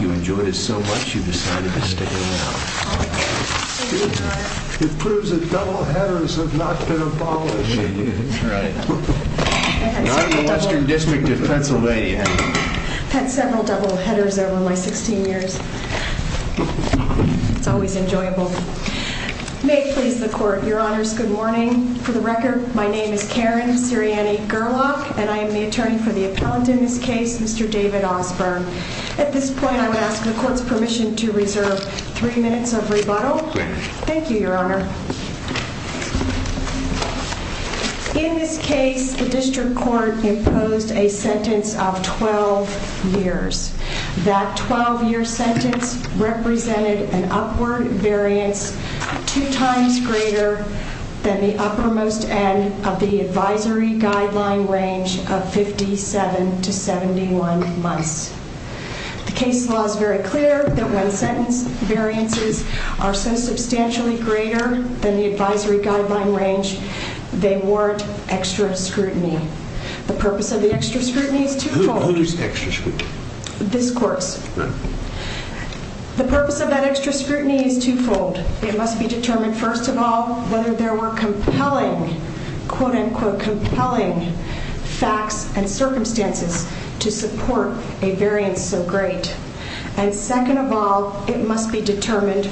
You enjoyed it so much you decided to stick around. It proves that double-headers have not been abolished. I'm in the Western District of Pennsylvania. I've had several double-headers over my 16 years. It's always enjoyable. May it please the court, your honors, good morning. For the record, my name is Karen Sirianni Gerlach, and I am the attorney for the appellant in this case, Mr. David Ausburn. At this point, I would ask the court's permission to reserve three minutes of rebuttal. Thank you, your honor. In this case, the district court imposed a sentence of 12 years. That 12-year sentence represented an upward variance two times greater than the uppermost end of the advisory guideline range of 57 to 71 months. The case law is very clear that when sentence variances are so substantially greater than the advisory guideline range, they warrant extra scrutiny. The purpose of the extra scrutiny is twofold. It must be determined, first of all, whether there were compelling facts and circumstances to support a variance so great. And second of all, it must be determined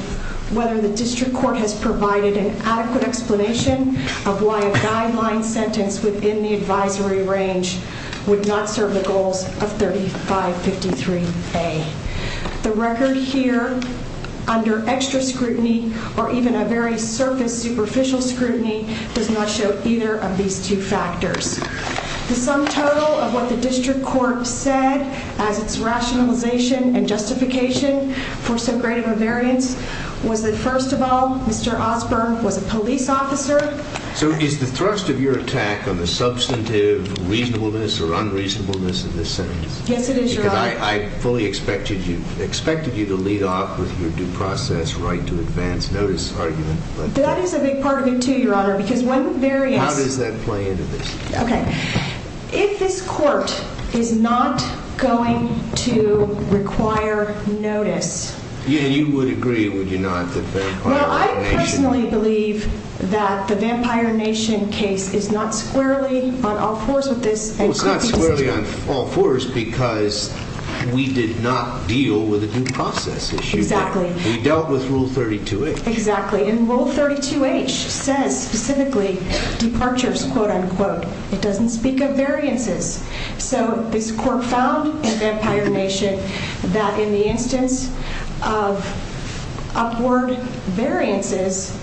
whether the district court has provided an adequate explanation of why a guideline sentence within the advisory range would not serve the goals of 3553A. The record here, under extra scrutiny or even a very surface superficial scrutiny, does not show either of these two factors. The sum total of what the district court said as its rationalization and justification for so great of a variance was that, first of all, Mr. Ausburn was a police officer. So is the thrust of your attack on the substantive reasonableness or unreasonableness of this sentence? Yes, it is, your honor. Because I fully expected you to lead off with your due process right to advance notice argument. That is a big part of it, too, your honor, because when there is... How does that play into this? Okay. If this court is not going to require notice... Yeah, you would agree, would you not, that Vampire Nation... Well, I personally believe that the Vampire Nation case is not squarely on all fours with this... Well, it's not squarely on all fours because we did not deal with a due process issue. Exactly. We dealt with Rule 32H. Exactly. And Rule 32H says specifically, departures, quote-unquote. It doesn't speak of variances. So this court found in Vampire Nation that in the instance of upward variances,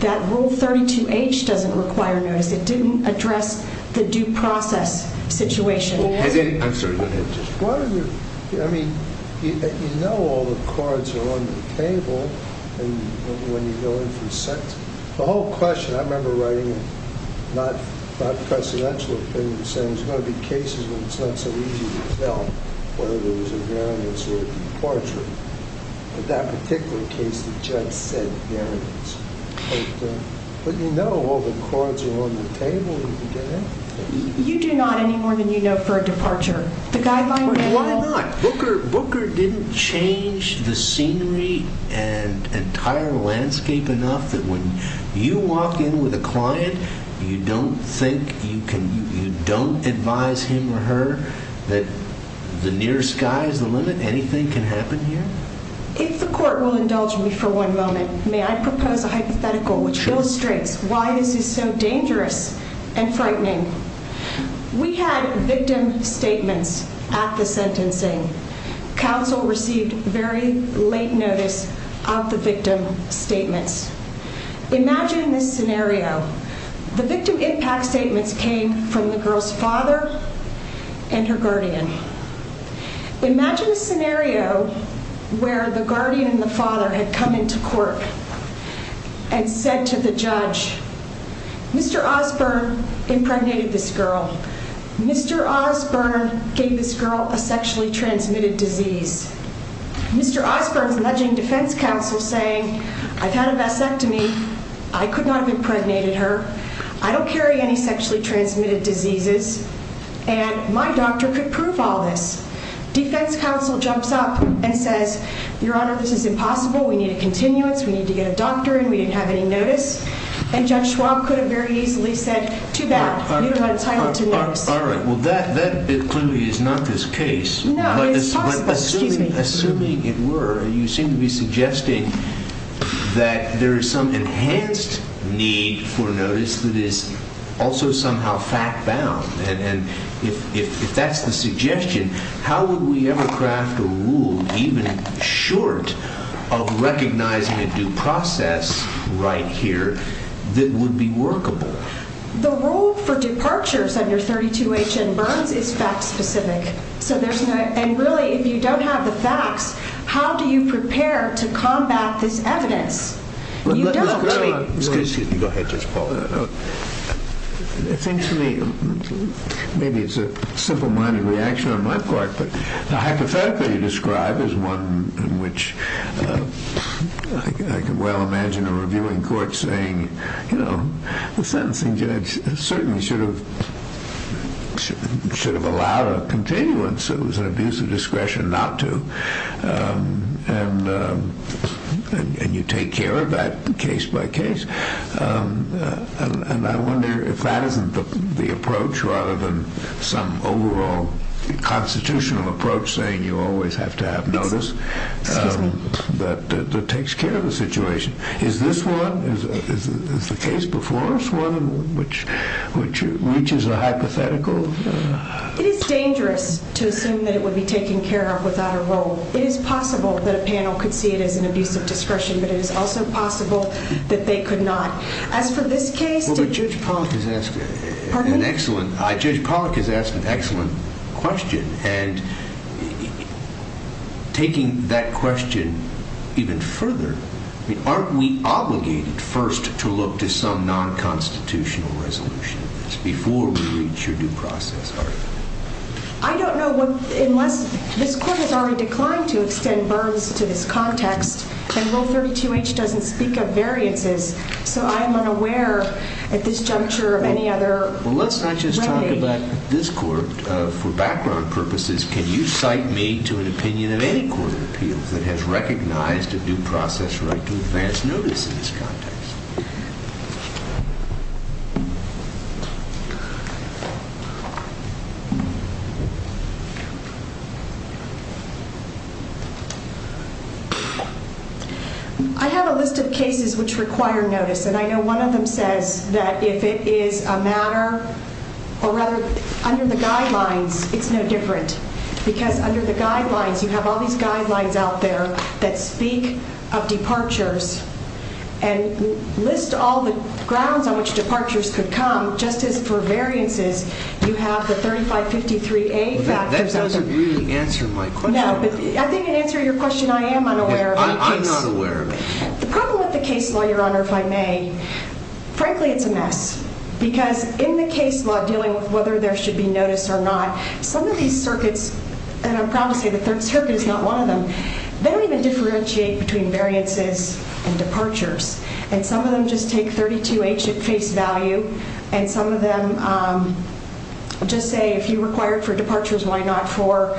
that Rule 32H doesn't require notice. It didn't address the due process situation. I mean, you know all the cards are on the table when you go in for a sentence. The whole question, I remember writing a not-presidential opinion saying there's going to be cases where it's not so easy to tell whether there was a variance or a departure. But that particular case, the judge said variance. But you know all the cards are on the table in the beginning. You do not anymore than you know for a departure. Why not? Booker didn't change the scenery and entire landscape enough that when you walk in with a client, you don't think, you don't advise him or her that the near sky is the limit, anything can happen here? If the court will indulge me for one moment, may I propose a hypothetical which illustrates why this is so dangerous and frightening? We had victim statements at the sentencing. Counsel received very late notice of the victim statements. Imagine this scenario. The victim impact statements came from the girl's father and her guardian. Imagine a scenario where the guardian and the father had come into court and said to the judge, Mr. Osborne impregnated this girl. Mr. Osborne gave this girl a sexually transmitted disease. Mr. Osborne's nudging defense counsel saying, I've had a vasectomy. I could not have impregnated her. I don't carry any sexually transmitted diseases. And my doctor could prove all this. Defense counsel jumps up and says, Your Honor, this is impossible. We need a continuance. We need to get a doctor. And we didn't have any notice. And Judge Schwab could have very easily said, too bad. You don't have a title to notice. All right. Well, that clearly is not this case. No, it's possible. Assuming it were, you seem to be suggesting that there is some enhanced need for notice that is also somehow fact-bound. And if that's the suggestion, how would we ever craft a rule, even short of recognizing a due process right here, that would be workable? The rule for departures under 32H and Burns is fact-specific. And really, if you don't have the facts, how do you prepare to combat this evidence? I think to me, maybe it's a simple-minded reaction on my part, but the hypothetical you describe is one in which I can well imagine a reviewing court saying, you know, the sentencing judge certainly should have allowed a continuance. It was an abuse of discretion not to. And you take care of that case by case. And I wonder if that isn't the approach, rather than some overall constitutional approach saying you always have to have notice that takes care of the situation. Is this one, is the case before us one which is a hypothetical? It is dangerous to assume that it would be taken care of without a role. It is possible that a panel could see it as an abuse of discretion, but it is also possible that they could not. As for this case... Judge Pollack has asked an excellent question. And taking that question even further, aren't we obligated first to look to some non-constitutional resolution before we reach a due process argument? I don't know unless this court has already declined to extend Burns to this context, and Rule 32H doesn't speak of variances. So I am unaware at this juncture of any other remedy. Well, let's not just talk about this court. For background purposes, can you cite me to an opinion of any court of appeals that has recognized a due process right to advance notice in this context? I have a list of cases which require notice, and I know one of them says that if it is a matter, or rather under the guidelines, it's no different. Because under the guidelines, you have all these guidelines out there that speak of departures, and list all the grounds on which departures could come, just as for variances, you have the 3553A... That doesn't really answer my question. I think in answer to your question, I am unaware of any case. I'm not aware of any case. The problem with the case law, Your Honor, if I may, frankly, it's a mess. Because in the case law, dealing with whether there should be notice or not, some of these circuits, and I'm proud to say the third circuit is not one of them, they don't even differentiate between variances and departures. And some of them just take 32H at face value, and some of them just say, if you require it for departures, why not for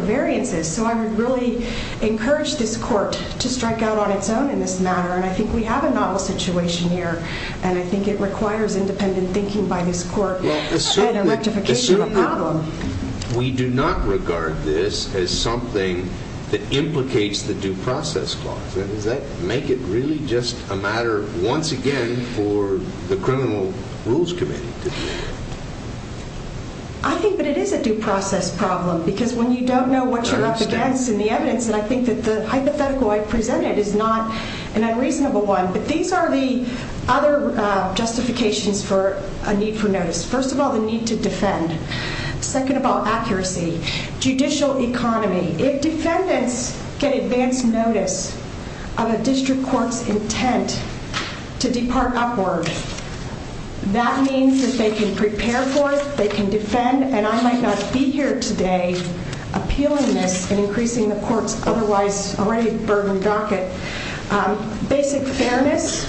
variances? So I would really encourage this court to strike out on its own in this matter. And I think we have a novel situation here, and I think it requires independent thinking by this court and a rectification of the problem. Assuming that we do not regard this as something that implicates the due process clause, does that make it really just a matter, once again, for the criminal rules committee? I think that it is a due process problem. Because when you don't know what you're up against in the evidence, and I think that the hypothetical I presented is not an unreasonable one. But these are the other justifications for a need for notice. First of all, the need to defend. Second of all, accuracy. Judicial economy. If defendants get advance notice of a district court's intent to depart upward, that means that they can prepare for it, they can defend. And I might not be here today appealing this and increasing the court's otherwise already burdened docket. Basic fairness.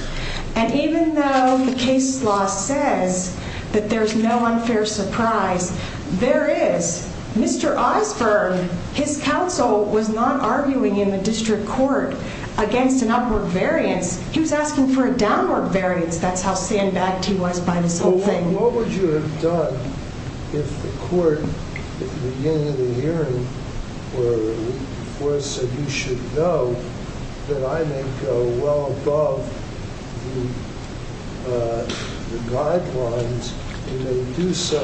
And even though the case law says that there's no unfair surprise, there is. Mr. Osborne, his counsel was not arguing in the district court against an upward variance. He was asking for a downward variance. That's how sandbagged he was by this whole thing. What would you have done if the court, at the beginning of the hearing, said you should know that I may go well above the guidelines, and may do so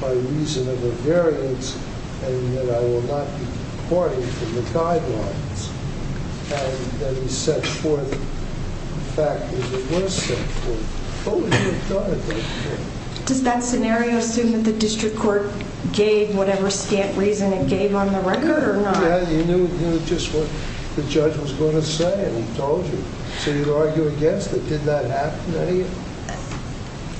by reason of a variance, and that I will not be courting from the guidelines? And then he set forth the fact that it was set forth. Does that scenario assume that the district court gave whatever scant reason it gave on the record, or not? Yeah, you knew just what the judge was going to say, and he told you. So you'd argue against it. Did that happen to any of you?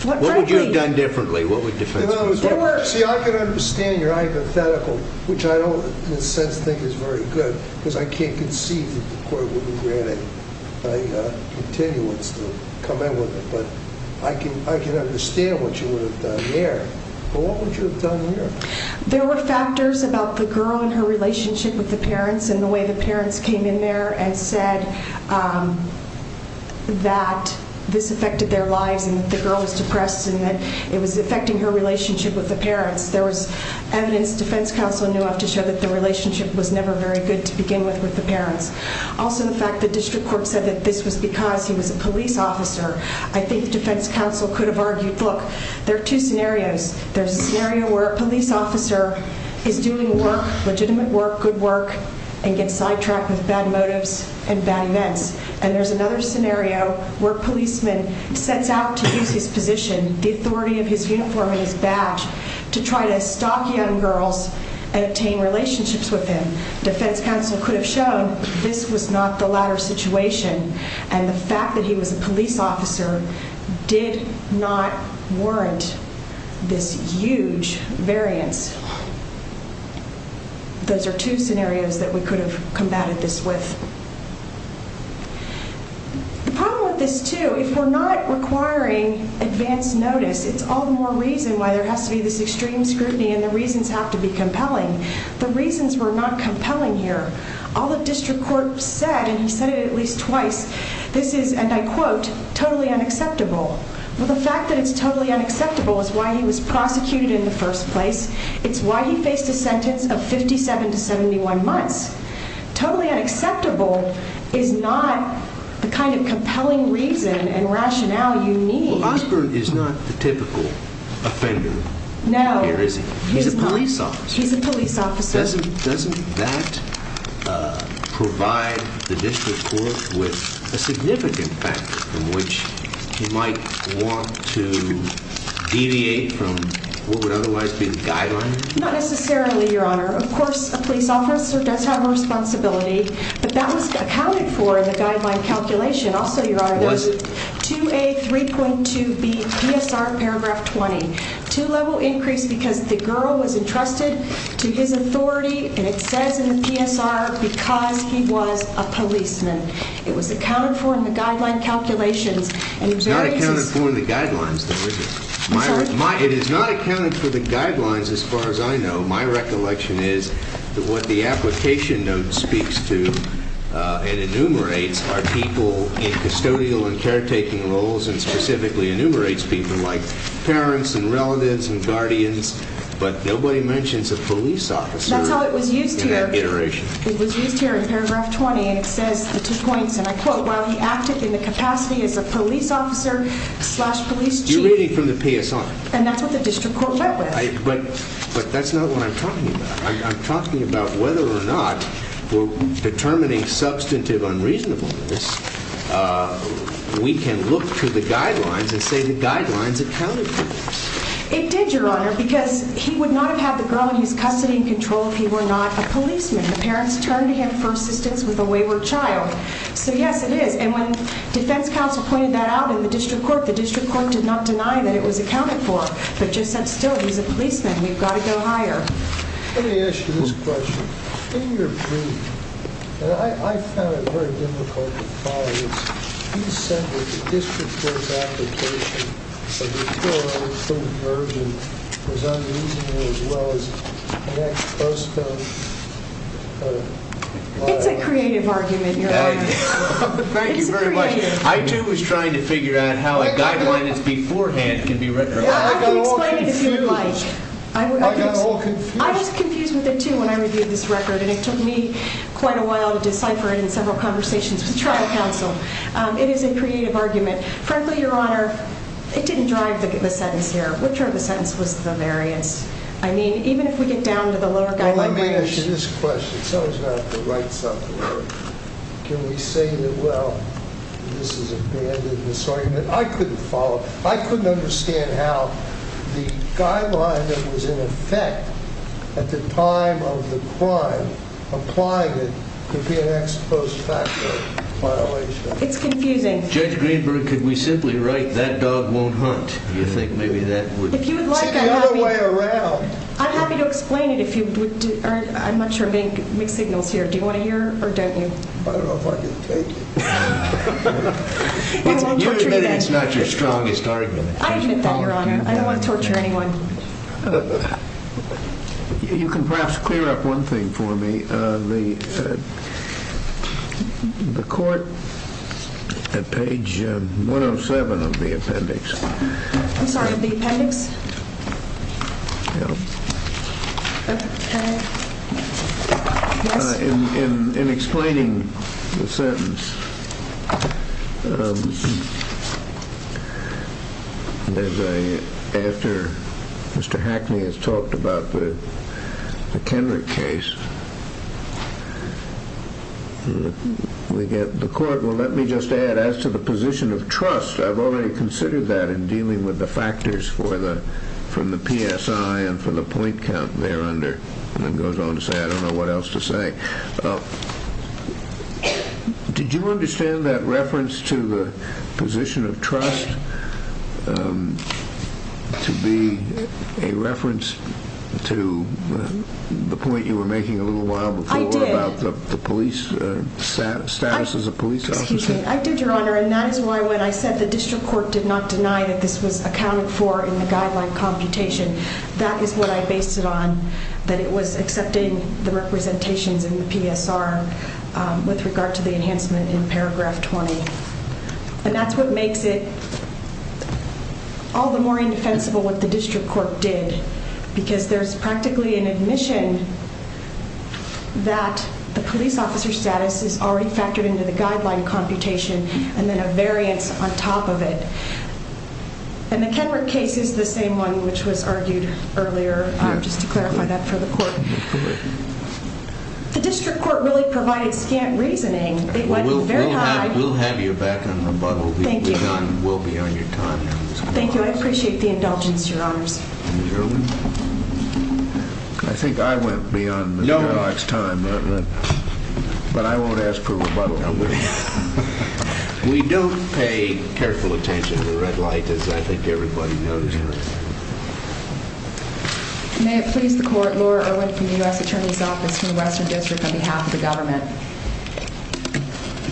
What would you have done differently? See, I can understand your hypothetical, which I don't, in a sense, think is very good, because I can't conceive that the court would have granted a continuance to come in with it. But I can understand what you would have done there. But what would you have done here? There were factors about the girl and her relationship with the parents, and the way the parents came in there and said that this affected their lives, and that the girl was depressed, and that it was affecting her relationship with the parents. There was evidence the defense counsel knew of to show that the relationship was never very good to begin with with the parents. Also the fact the district court said that this was because he was a police officer. I think the defense counsel could have argued, look, there are two scenarios. There's a scenario where a police officer is doing work, legitimate work, good work, and gets sidetracked with bad motives and bad events. And there's another scenario where a policeman sets out to use his position, the authority of his uniform and his badge, to try to stop young girls and obtain relationships with them. Defense counsel could have shown this was not the latter situation, and the fact that he was a police officer did not warrant this huge variance. Those are two scenarios that we could have combated this with. The problem with this, too, if we're not requiring advance notice, it's all the more reason why there has to be this extreme scrutiny and the reasons have to be compelling. The reasons were not compelling here. All the district court said, and he said it at least twice, this is, and I quote, totally unacceptable. Well, the fact that it's totally unacceptable is why he was prosecuted in the first place. It's why he faced a sentence of 57 to 71 months. Totally unacceptable is not the kind of compelling reason and rationale you need. Well, Osborne is not the typical offender. No. Or is he? He's a police officer. He's a police officer. Doesn't that provide the district court with a significant factor from which he might want to deviate from what would otherwise be the guideline? Not necessarily, Your Honor. Of course, a police officer does have a responsibility, but that was accounted for in the guideline calculation. Also, Your Honor, there was a 2A3.2BPSR paragraph 20, two-level increase because the girl was entrusted to his authority, and it says in the PSR because he was a policeman. It was accounted for in the guideline calculations. Not accounted for in the guidelines, though, is it? I'm sorry? It is not accounted for in the guidelines as far as I know. My recollection is that what the application note speaks to and enumerates are people in custodial and caretaking roles and specifically enumerates people like parents and relatives and guardians, but nobody mentions a police officer in that iteration. That's how it was used here. It was used here in paragraph 20, and it says the two points, and I quote, while he acted in the capacity as a police officer slash police chief. You're reading from the PSR. And that's what the district court went with. But that's not what I'm talking about. I'm talking about whether or not we're determining substantive unreasonableness. We can look to the guidelines and say the guidelines accounted for this. It did, Your Honor, because he would not have had the girl in his custody and control if he were not a policeman. The parents turned to him for assistance with a wayward child. So, yes, it is, and when defense counsel pointed that out in the district court, the district court did not deny that it was accounted for, but just said, still, he's a policeman. We've got to go higher. Let me ask you this question. In your brief, and I found it very difficult to follow this, you said that the district court's application of a total and complete version was unreasonable as well as an ex-postpone. It's a creative argument, Your Honor. Thank you very much. I, too, was trying to figure out how a guideline that's beforehand can be read correctly. I can explain it if you'd like. I got all confused. I was confused with it, too, when I reviewed this record, and it took me quite a while to decipher it in several conversations with trial counsel. It is a creative argument. Frankly, Your Honor, it didn't drive the sentence here. Which of the sentences was the variance? I mean, even if we get down to the lower guidelines. Well, let me ask you this question. Can we say that, well, this is a bandit misargument? I couldn't follow. I couldn't understand how the guideline that was in effect at the time of the crime, applying it, could be an ex-post facto violation. It's confusing. Judge Greenberg, could we simply write, that dog won't hunt? Do you think maybe that would? It's the other way around. I'm happy to explain it if you would. I'm not sure I'm getting mixed signals here. Do you want to hear or don't you? I don't know if I can take it. You admit it's not your strongest argument. I admit that, Your Honor. I don't want to torture anyone. You can perhaps clear up one thing for me. The court at page 107 of the appendix. I'm sorry, the appendix? Yes. In explaining the sentence, after Mr. Hackney has talked about the Kendrick case, the court will let me just add, as to the position of trust, I've already considered that in dealing with the factors from the PSI and from the point count there under. It goes on to say, I don't know what else to say. Did you understand that reference to the position of trust to be a reference to the point you were making a little while before? I did. About the police, status as a police officer? I did, Your Honor, and that is why when I said the district court did not deny that this was accounted for in the guideline computation, that is what I based it on, that it was accepting the representations in the PSR with regard to the enhancement in paragraph 20. And that's what makes it all the more indefensible what the district court did, because there's practically an admission that the police officer status is already factored into the guideline computation, and then a variance on top of it. And the Kendrick case is the same one which was argued earlier, just to clarify that for the court. The district court really provided scant reasoning. We'll have you back on rebuttal. Thank you. We'll be on your time. Thank you. I appreciate the indulgence, Your Honors. Ms. Irwin? I think I went beyond the time, but I won't ask for rebuttal. We do pay careful attention to the red light, as I think everybody knows. May it please the Court, Laura Irwin from the U.S. Attorney's Office in the Western District on behalf of the government.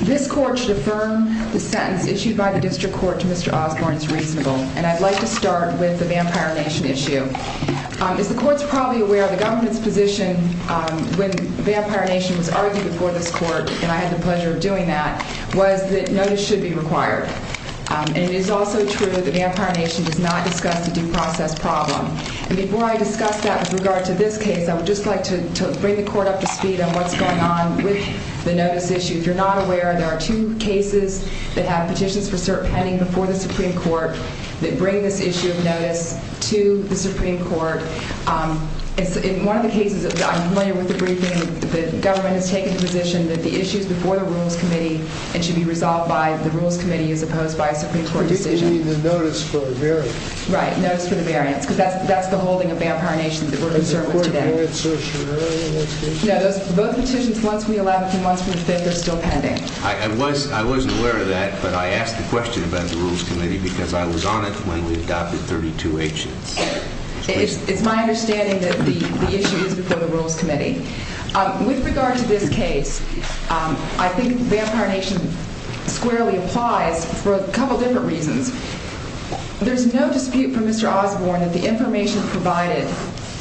This Court should affirm the sentence issued by the district court to Mr. Osborne as reasonable, and I'd like to start with the Vampire Nation issue. As the Court's probably aware, the government's position when Vampire Nation was argued before this Court, and I had the pleasure of doing that, was that notice should be required. And it is also true that the Vampire Nation does not discuss a due process problem. And before I discuss that with regard to this case, I would just like to bring the Court up to speed on what's going on with the notice issue. If you're not aware, there are two cases that have petitions for cert pending before the Supreme Court that bring this issue of notice to the Supreme Court. In one of the cases, I'm familiar with the briefing, the government has taken the position that the issues before the Rules Committee and should be resolved by the Rules Committee as opposed by a Supreme Court decision. I think you mean the notice for the variants. Right, notice for the variants. Because that's the holding of Vampire Nation that we're concerned with today. No, both petitions, once we allow them through, once through the 5th, are still pending. I wasn't aware of that, but I asked the question about the Rules Committee because I was on it when we adopted 32Hs. It's my understanding that the issue is before the Rules Committee. With regard to this case, I think Vampire Nation squarely applies for a couple different reasons. There's no dispute from Mr. Osborne that the information provided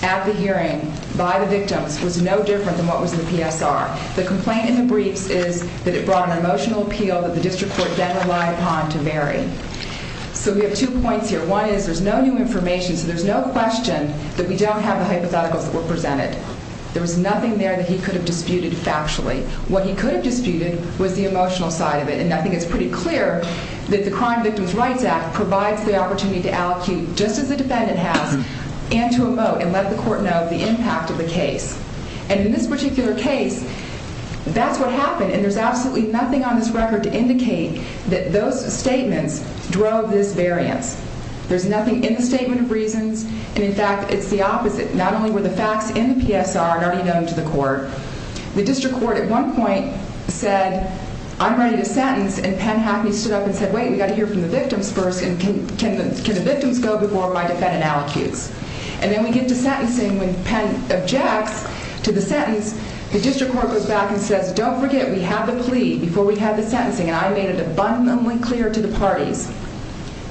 at the hearing by the victims was no different than what was in the PSR. The complaint in the briefs is that it brought an emotional appeal that the district court then relied upon to vary. So we have two points here. One is there's no new information, so there's no question that we don't have the hypotheticals that were presented. There was nothing there that he could have disputed factually. What he could have disputed was the emotional side of it, and I think it's pretty clear that the Crime Victims' Rights Act provides the opportunity to allocate, just as the defendant has, and to emote and let the court know the impact of the case. And in this particular case, that's what happened, and there's absolutely nothing on this record to indicate that those statements drove this variance. There's nothing in the statement of reasons, and, in fact, it's the opposite. Not only were the facts in the PSR not even known to the court, the district court at one point said, I'm ready to sentence, and Penn Hackney stood up and said, Wait, we've got to hear from the victims first, and can the victims go before my defendant allocutes? And then we get to sentencing when Penn objects to the sentence, the district court goes back and says, Don't forget we had the plea before we had the sentencing, and I made it abundantly clear to the parties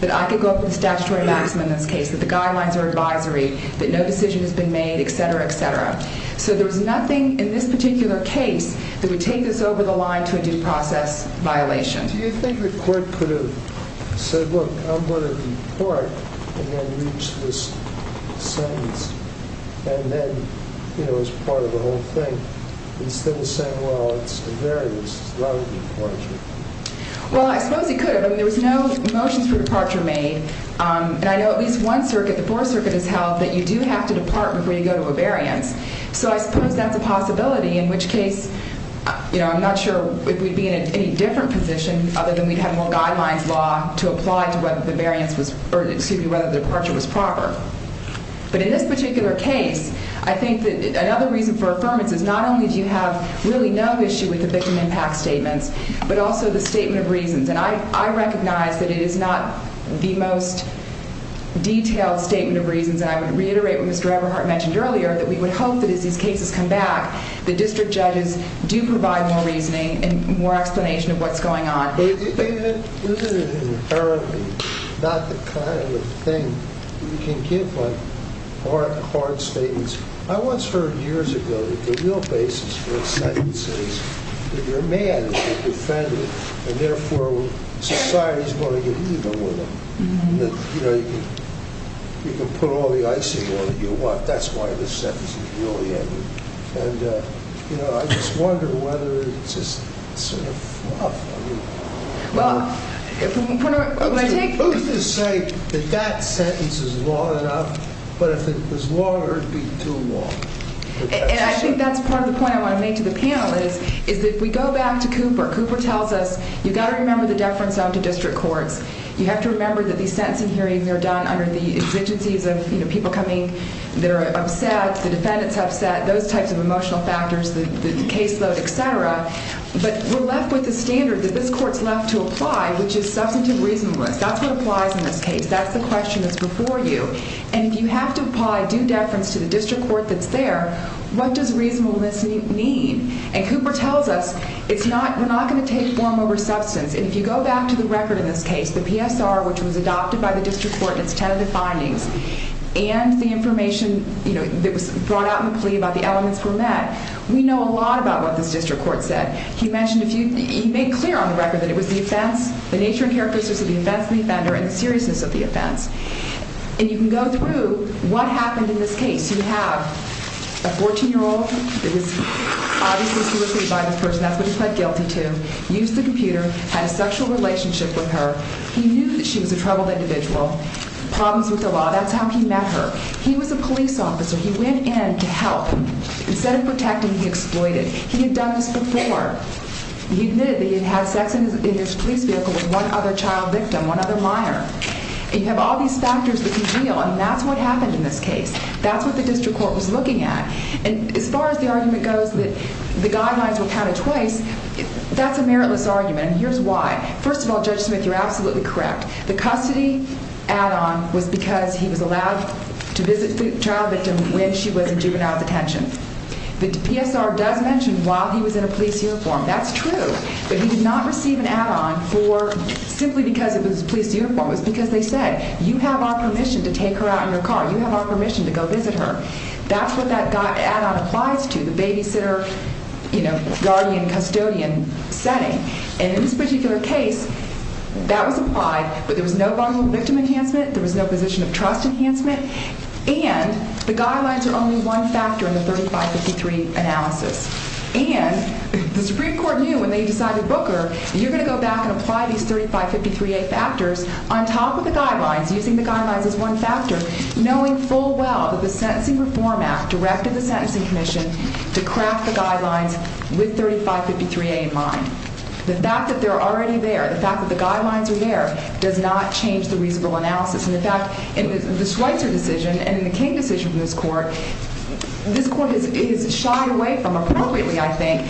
that I could go up to the statutory maximum in this case, that the guidelines are advisory, that no decision has been made, et cetera, et cetera. So there's nothing in this particular case that would take this over the line to a due process violation. Do you think the court could have said, Look, I'm going to depart and then reach this sentence, and then, you know, it's part of the whole thing, instead of saying, Well, it's a variance, it's not a departure? Well, I suppose it could have. I mean, there was no motions for departure made, and I know at least one circuit, the Fourth Circuit, has held that you do have to depart before you go to a variance. So I suppose that's a possibility, in which case, you know, I'm not sure if we'd be in any different position, other than we'd have more guidelines law to apply to whether the variance was, or excuse me, whether the departure was proper. But in this particular case, I think that another reason for affirmance is not only do you have really no issue with the victim impact statements, but also the statement of reasons. And I recognize that it is not the most detailed statement of reasons, and I would reiterate what Mr. Everhart mentioned earlier, that we would hope that as these cases come back, the district judges do provide more reasoning and more explanation of what's going on. But isn't it inherently not the kind of thing you can give, like, hard statements? I once heard years ago that the real basis for a sentence is that you're a man, that you're defended, and therefore society's going to get evil with it. That, you know, you can put all the icing on it you want. That's why this sentence is really heavy. And, you know, I just wonder whether it's just sort of fluff. I mean, who's to say that that sentence is long enough, but if it was longer, it would be too long. And I think that's part of the point I want to make to the panel, is that if we go back to Cooper, Cooper tells us, you've got to remember the deference out to district courts. You have to remember that these sentencing hearings are done under the exigencies of, you know, people coming, they're upset, the defendants upset, those types of emotional factors, the caseload, et cetera. But we're left with the standard that this court's left to apply, which is substantive reasonableness. That's what applies in this case. That's the question that's before you. And if you have to apply due deference to the district court that's there, what does reasonableness need? And Cooper tells us it's not, we're not going to take form over substance. And if you go back to the record in this case, the PSR, which was adopted by the district court in its tentative findings, and the information, you know, that was brought out in the plea about the elements were met, we know a lot about what this district court said. He mentioned a few, he made clear on the record that it was the offense, the nature and characteristics of the offense and the offender, and the seriousness of the offense. And you can go through what happened in this case. You have a 14-year-old that was obviously solicited by this person, that's what he pled guilty to, used the computer, had a sexual relationship with her. He knew that she was a troubled individual, problems with the law. That's how he met her. He was a police officer. He went in to help. Instead of protecting, he exploited. He had done this before. He admitted that he had had sex in his police vehicle with one other child victim, one other minor. And you have all these factors that you deal, and that's what happened in this case. That's what the district court was looking at. And as far as the argument goes that the guidelines were counted twice, that's a meritless argument, and here's why. First of all, Judge Smith, you're absolutely correct. The custody add-on was because he was allowed to visit the child victim when she was in juvenile detention. The PSR does mention while he was in a police uniform. That's true. But he did not receive an add-on for simply because of his police uniform. It was because they said, you have our permission to take her out in your car. You have our permission to go visit her. That's what that add-on applies to, the babysitter, guardian, custodian setting. And in this particular case, that was applied, but there was no wrongful victim enhancement, there was no position of trust enhancement, and the guidelines are only one factor in the 3553 analysis. And the Supreme Court knew when they decided Booker that you're going to go back and apply these 3553A factors on top of the guidelines, using the guidelines as one factor, knowing full well that the Sentencing Reform Act directed the Sentencing Commission to craft the guidelines with 3553A in mind. The fact that they're already there, the fact that the guidelines are there, does not change the reasonable analysis. And in fact, in the Schweitzer decision and in the King decision in this court, this court is shy away from appropriately, I think,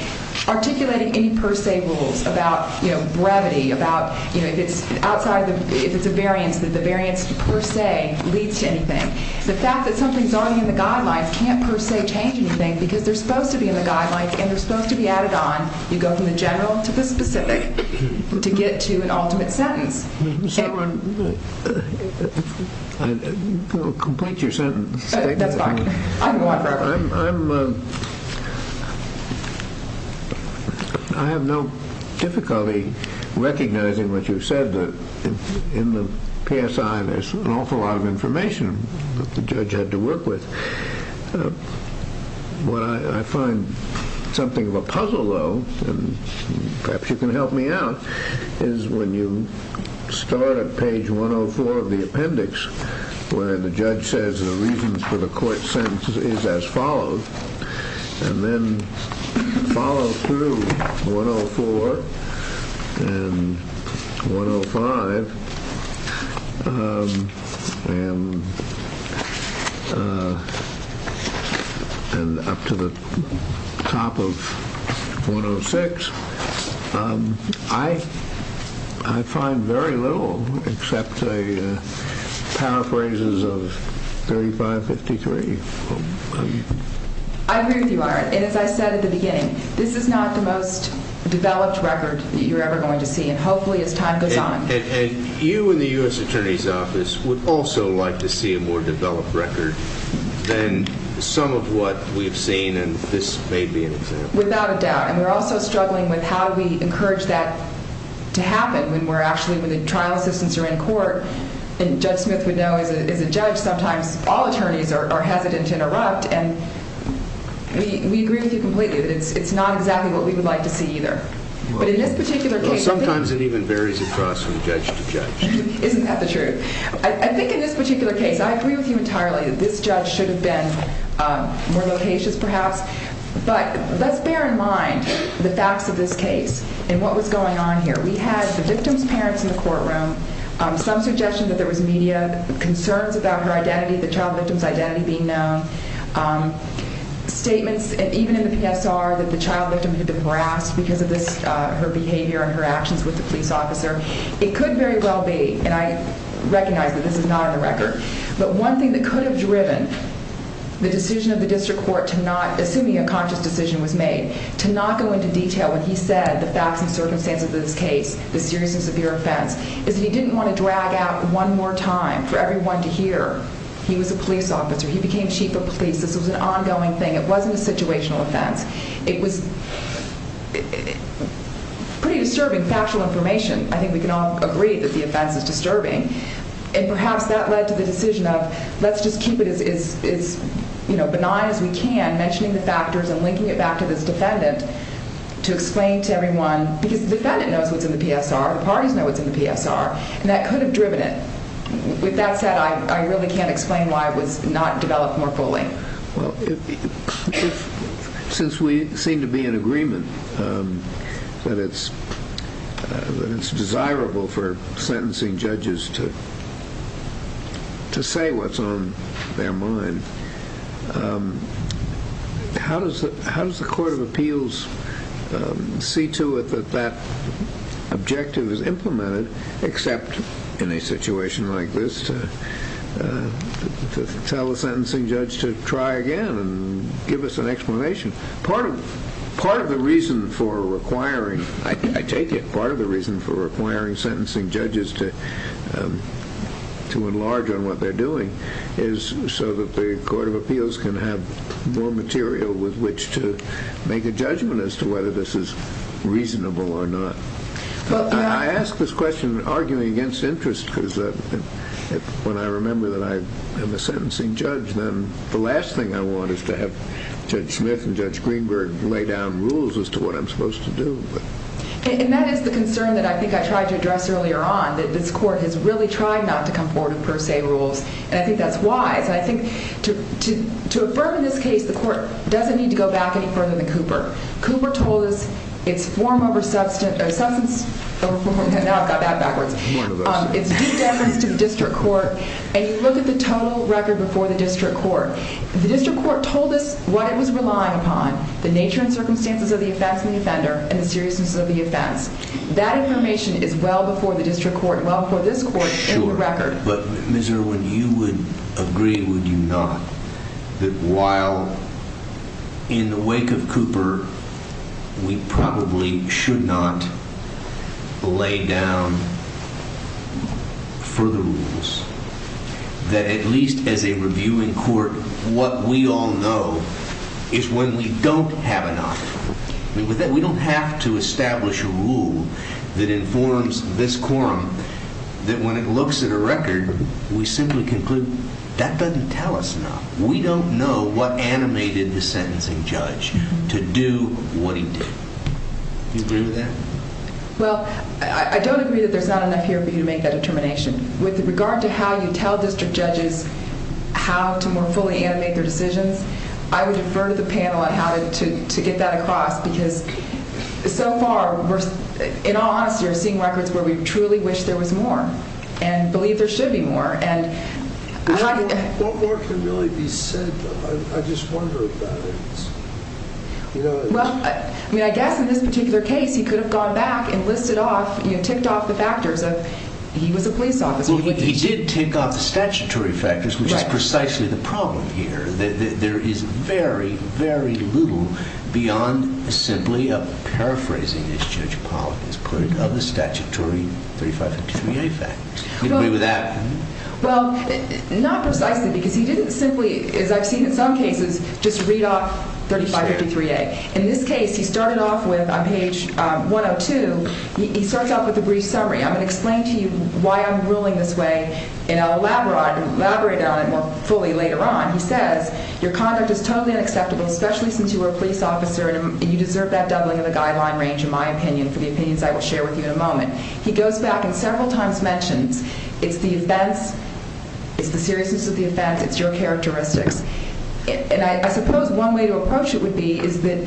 articulating any per se rules about brevity, about if it's a variance that the variance per se leads to anything. The fact that something's already in the guidelines can't per se change anything, because they're supposed to be in the guidelines and they're supposed to be added on. You go from the general to the specific to get to an ultimate sentence. So I'm going to complete your sentence. That's fine. I can go on forever. I have no difficulty recognizing what you've said, that in the PSI there's an awful lot of information that the judge had to work with. What I find something of a puzzle, though, and perhaps you can help me out, is when you start at page 104 of the appendix, where the judge says the reasons for the court sentence is as follows, and then follow through 104 and 105 and up to the top of 106, I find very little except paraphrases of 3553. I agree with you on it. And as I said at the beginning, this is not the most developed record that you're ever going to see, and hopefully as time goes on. And you in the U.S. Attorney's Office would also like to see a more developed record than some of what we've seen, and this may be an example. Without a doubt. And we're also struggling with how we encourage that to happen when we're actually, when the trial assistants are in court, and Judge Smith would know as a judge, sometimes all attorneys are hesitant to interrupt, and we agree with you completely that it's not exactly what we would like to see either. But in this particular case... Well, sometimes it even varies across from judge to judge. Isn't that the truth? I think in this particular case, I agree with you entirely that this judge should have been more locatious perhaps, but let's bear in mind the facts of this case and what was going on here. We had the victim's parents in the courtroom, some suggestion that there was media concerns about her identity, the child victim's identity being known, statements, even in the PSR, that the child victim had been harassed because of her behavior and her actions with the police officer. It could very well be, and I recognize that this is not on the record, but one thing that could have driven the decision of the district court to not, assuming a conscious decision was made, to not go into detail when he said the facts and circumstances of this case, the seriousness of your offense, is that he didn't want to drag out one more time for everyone to hear he was a police officer. He became chief of police. This was an ongoing thing. It wasn't a situational offense. It was pretty disturbing factual information. I think we can all agree that the offense is disturbing, and perhaps that led to the decision of let's just keep it as benign as we can, mentioning the factors and linking it back to this defendant to explain to everyone, because the defendant knows what's in the PSR, the parties know what's in the PSR, and that could have driven it. With that said, I really can't explain why it was not developed more fully. Since we seem to be in agreement that it's desirable for sentencing judges to say what's on their mind, how does the Court of Appeals see to it that that objective is implemented, except in a situation like this, to tell a sentencing judge to try again and give us an explanation? Part of the reason for requiring, I take it, part of the reason for requiring sentencing judges to enlarge on what they're doing is so that the Court of Appeals can have more material with which to make a judgment as to whether this is reasonable or not. I ask this question arguing against interest because when I remember that I am a sentencing judge, then the last thing I want is to have Judge Smith and Judge Greenberg lay down rules as to what I'm supposed to do. And that is the concern that I think I tried to address earlier on, that this court has really tried not to come forward with per se rules, and I think that's wise. I think to affirm in this case, the court doesn't need to go back any further than Cooper. Cooper told us it's form over substance... substance over... Now I've got that backwards. It's due deference to the district court, and you look at the total record before the district court. The district court told us what it was relying upon, the nature and circumstances of the offense and the offender, and the seriousness of the offense. That information is well before the district court and well before this court in the record. Sure, but Ms. Irwin, you would agree, would you not, that while in the wake of Cooper, we probably should not lay down further rules, that at least as a reviewing court, what we all know is when we don't have enough. We don't have to establish a rule that informs this quorum that when it looks at a record, we simply conclude that doesn't tell us enough. We don't know what animated the sentencing judge to do what he did. Do you agree with that? Well, I don't agree that there's not enough here for you to make that determination. With regard to how you tell district judges how to more fully animate their decisions, I would defer to the panel on how to get that across, because so far, in all honesty, we're seeing records where we truly wish there was more and believe there should be more. What more can really be said? I just wonder about it. Well, I guess in this particular case, he could have gone back and ticked off the factors of he was a police officer. He did tick off the statutory factors, which is precisely the problem here. There is very, very little beyond simply a paraphrasing, as Judge Pollack has put, of the statutory 3553A factors. Do you agree with that? Well, not precisely, because he didn't simply, as I've seen in some cases, just read off 3553A. In this case, he started off with, on page 102, he starts off with a brief summary. I'm going to explain to you why I'm ruling this way and elaborate on it more fully later on. He says, your conduct is totally unacceptable, especially since you were a police officer and you deserve that doubling of the guideline range, in my opinion, for the opinions I will share with you in a moment. He goes back and several times mentions, it's the events, it's the seriousness of the events, it's your characteristics. And I suppose one way to approach it would be is that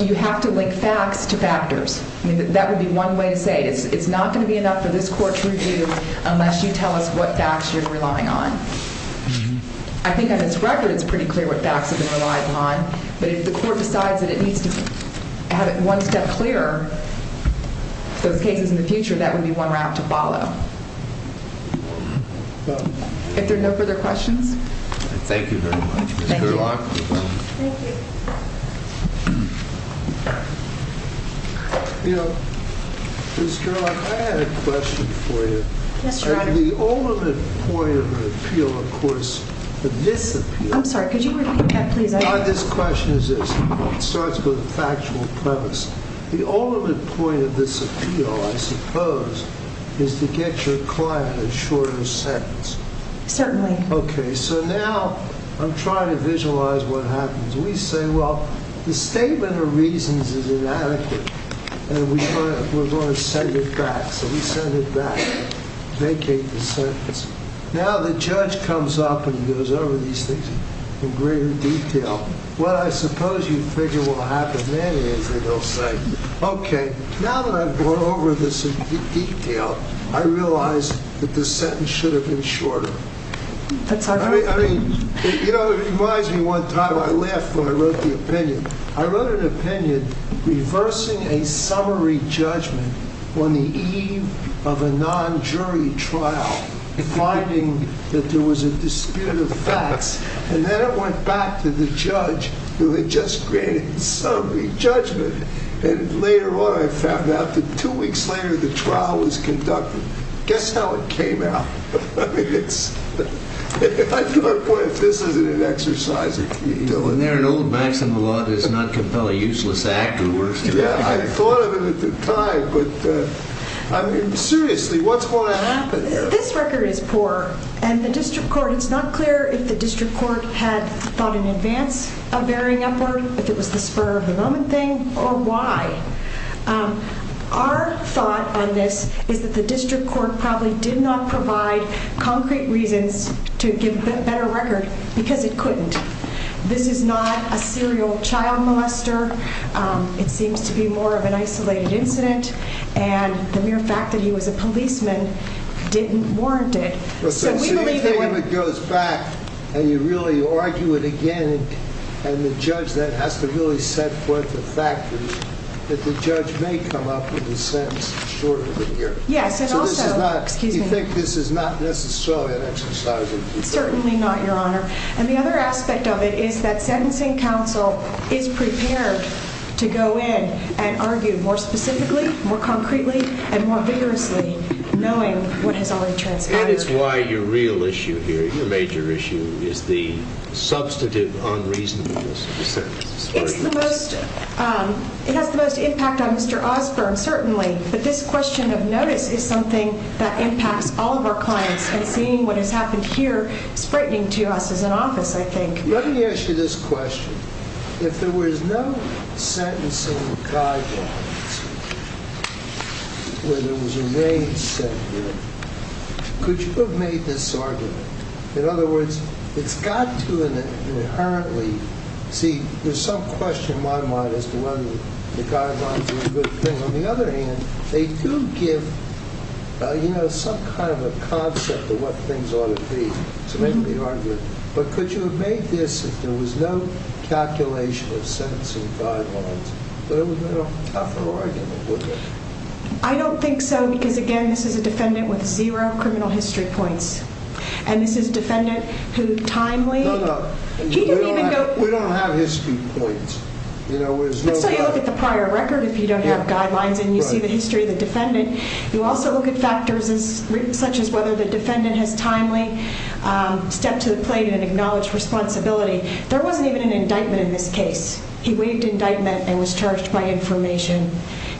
you have to link facts to factors. That would be one way to say it. It's not going to be enough for this court to review unless you tell us what facts you're relying on. I think on this record, it's pretty clear what facts have been relied upon, but if the court decides that it needs to have it one step clearer, those cases in the future, that would be one round to follow. If there are no further questions? Thank you very much, Ms. Gerlach. Thank you. You know, Ms. Gerlach, I had a question for you. Yes, Your Honor. The ultimate point of an appeal, of course, I'm sorry, could you repeat that, please? This question is this. It starts with a factual premise. The ultimate point of this appeal, I suppose, is to get your client a shorter sentence. Certainly. Okay, so now I'm trying to visualize what happens. We say, well, the statement of reasons is inadequate and we're going to send it back. So we send it back, vacate the sentence. Now the judge comes up and goes over these things in greater detail. What I suppose you figure will happen then is they'll say, okay, now that I've gone over this in detail, I realize that the sentence should have been shorter. That's right. I mean, you know, it reminds me of one time I left when I wrote the opinion. I wrote an opinion reversing a summary judgment on the eve of a non-jury trial. Finding that there was a dispute of facts. And then it went back to the judge who had just granted the summary judgment. And later on I found out that two weeks later the trial was conducted. Guess how it came out? I mean, it's, I thought, boy, if this isn't an exercise. And there an old maxim of the law, does not compel a useless act or worse. Yeah, I thought of it at the time. But, I mean, seriously, what's going to happen here? This record is poor. And the district court, it's not clear if the district court had thought in advance of bearing upward, if it was the spur of the moment thing, or why. Our thought on this is that the district court probably did not provide concrete reasons to give a better record because it couldn't. This is not a serial child molester. It seems to be more of an isolated incident. And the mere fact that he was a policeman didn't warrant it. So we believe that when it goes back, and you really argue it again, and the judge then has to really set forth the fact that the judge may come up with a sentence shorter than here. Yes, and also, excuse me. You think this is not necessarily an exercise? Certainly not, Your Honor. And the other aspect of it is that sentencing counsel is prepared to go in and argue more specifically, more concretely, and more vigorously, knowing what has already transpired. And it's why your real issue here, your major issue, is the substantive unreasonableness of the sentence. It's the most, it has the most impact on Mr. Osborne, certainly. But this question of notice is something that impacts all of our clients. And seeing what has happened here is frightening to us as an office, I think. Let me ask you this question. If there was no sentencing guidelines, where there was a range set here, could you have made this argument? In other words, it's got to inherently, see, there's some question in my mind as to whether the guidelines are a good thing. On the other hand, they do give, you know, some kind of a concept of what things ought to be. But could you have made this, if there was no calculation of sentencing guidelines, that it would have been a tougher argument, would it? I don't think so, because again, this is a defendant with zero criminal history points. And this is a defendant who timely... No, no. He didn't even go... We don't have history points. Let's say you look at the prior record if you don't have guidelines and you see the history of the defendant. You also look at factors such as whether the defendant has timely stepped to the plate and acknowledged responsibility. There wasn't even an indictment in this case. He waived indictment and was charged by information.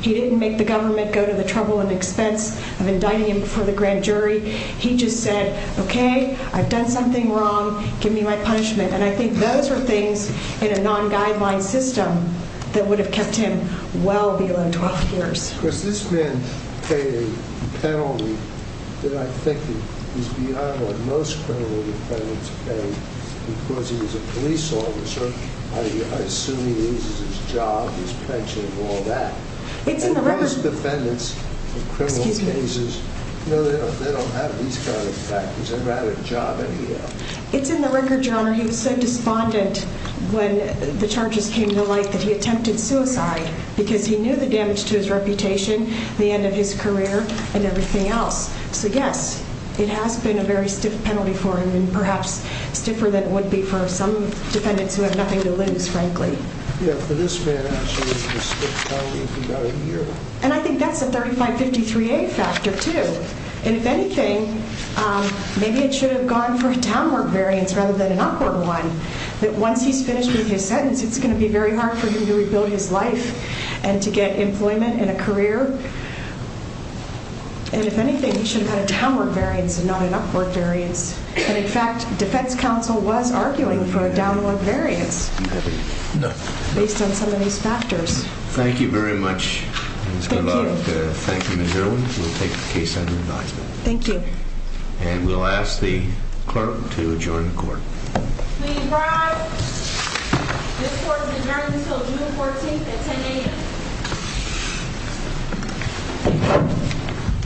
He didn't make the government go to the trouble and expense of indicting him before the grand jury. He just said, okay, I've done something wrong. Give me my punishment. And I think those are things in a non-guideline system that would have kept him well below 12 years. Because this man paid a penalty that I think is beyond what most criminal defendants pay because he was a police officer. I assume he loses his job, his pension, all that. And most defendants in criminal cases, no, they don't have these kind of factors. They don't have a job anyhow. It's in the record, Your Honor. He was so despondent when the charges came to light that he attempted suicide because he knew the damage to his reputation, the end of his career, and everything else. So, yes, it has been a very stiff penalty for him and perhaps stiffer than it would be for some defendants who have nothing to lose, frankly. Yeah, for this man, actually, it was a stiff penalty for about a year. And I think that's a 3553A factor, too. And if anything, maybe it should have gone for a town work variance rather than an awkward one, that once he's finished with his sentence, it's going to be very hard for him to rebuild his life and to get employment and a career. And if anything, he should have had a town work variance and not an awkward variance. And, in fact, defense counsel was arguing for a town work variance based on some of these factors. Thank you very much, Ms. Gillard. Thank you. Thank you, Ms. Irwin. We'll take the case under advisement. Thank you. And we'll ask the clerk to adjourn the court. Please rise. This court is adjourned until June 14th at 10 a.m.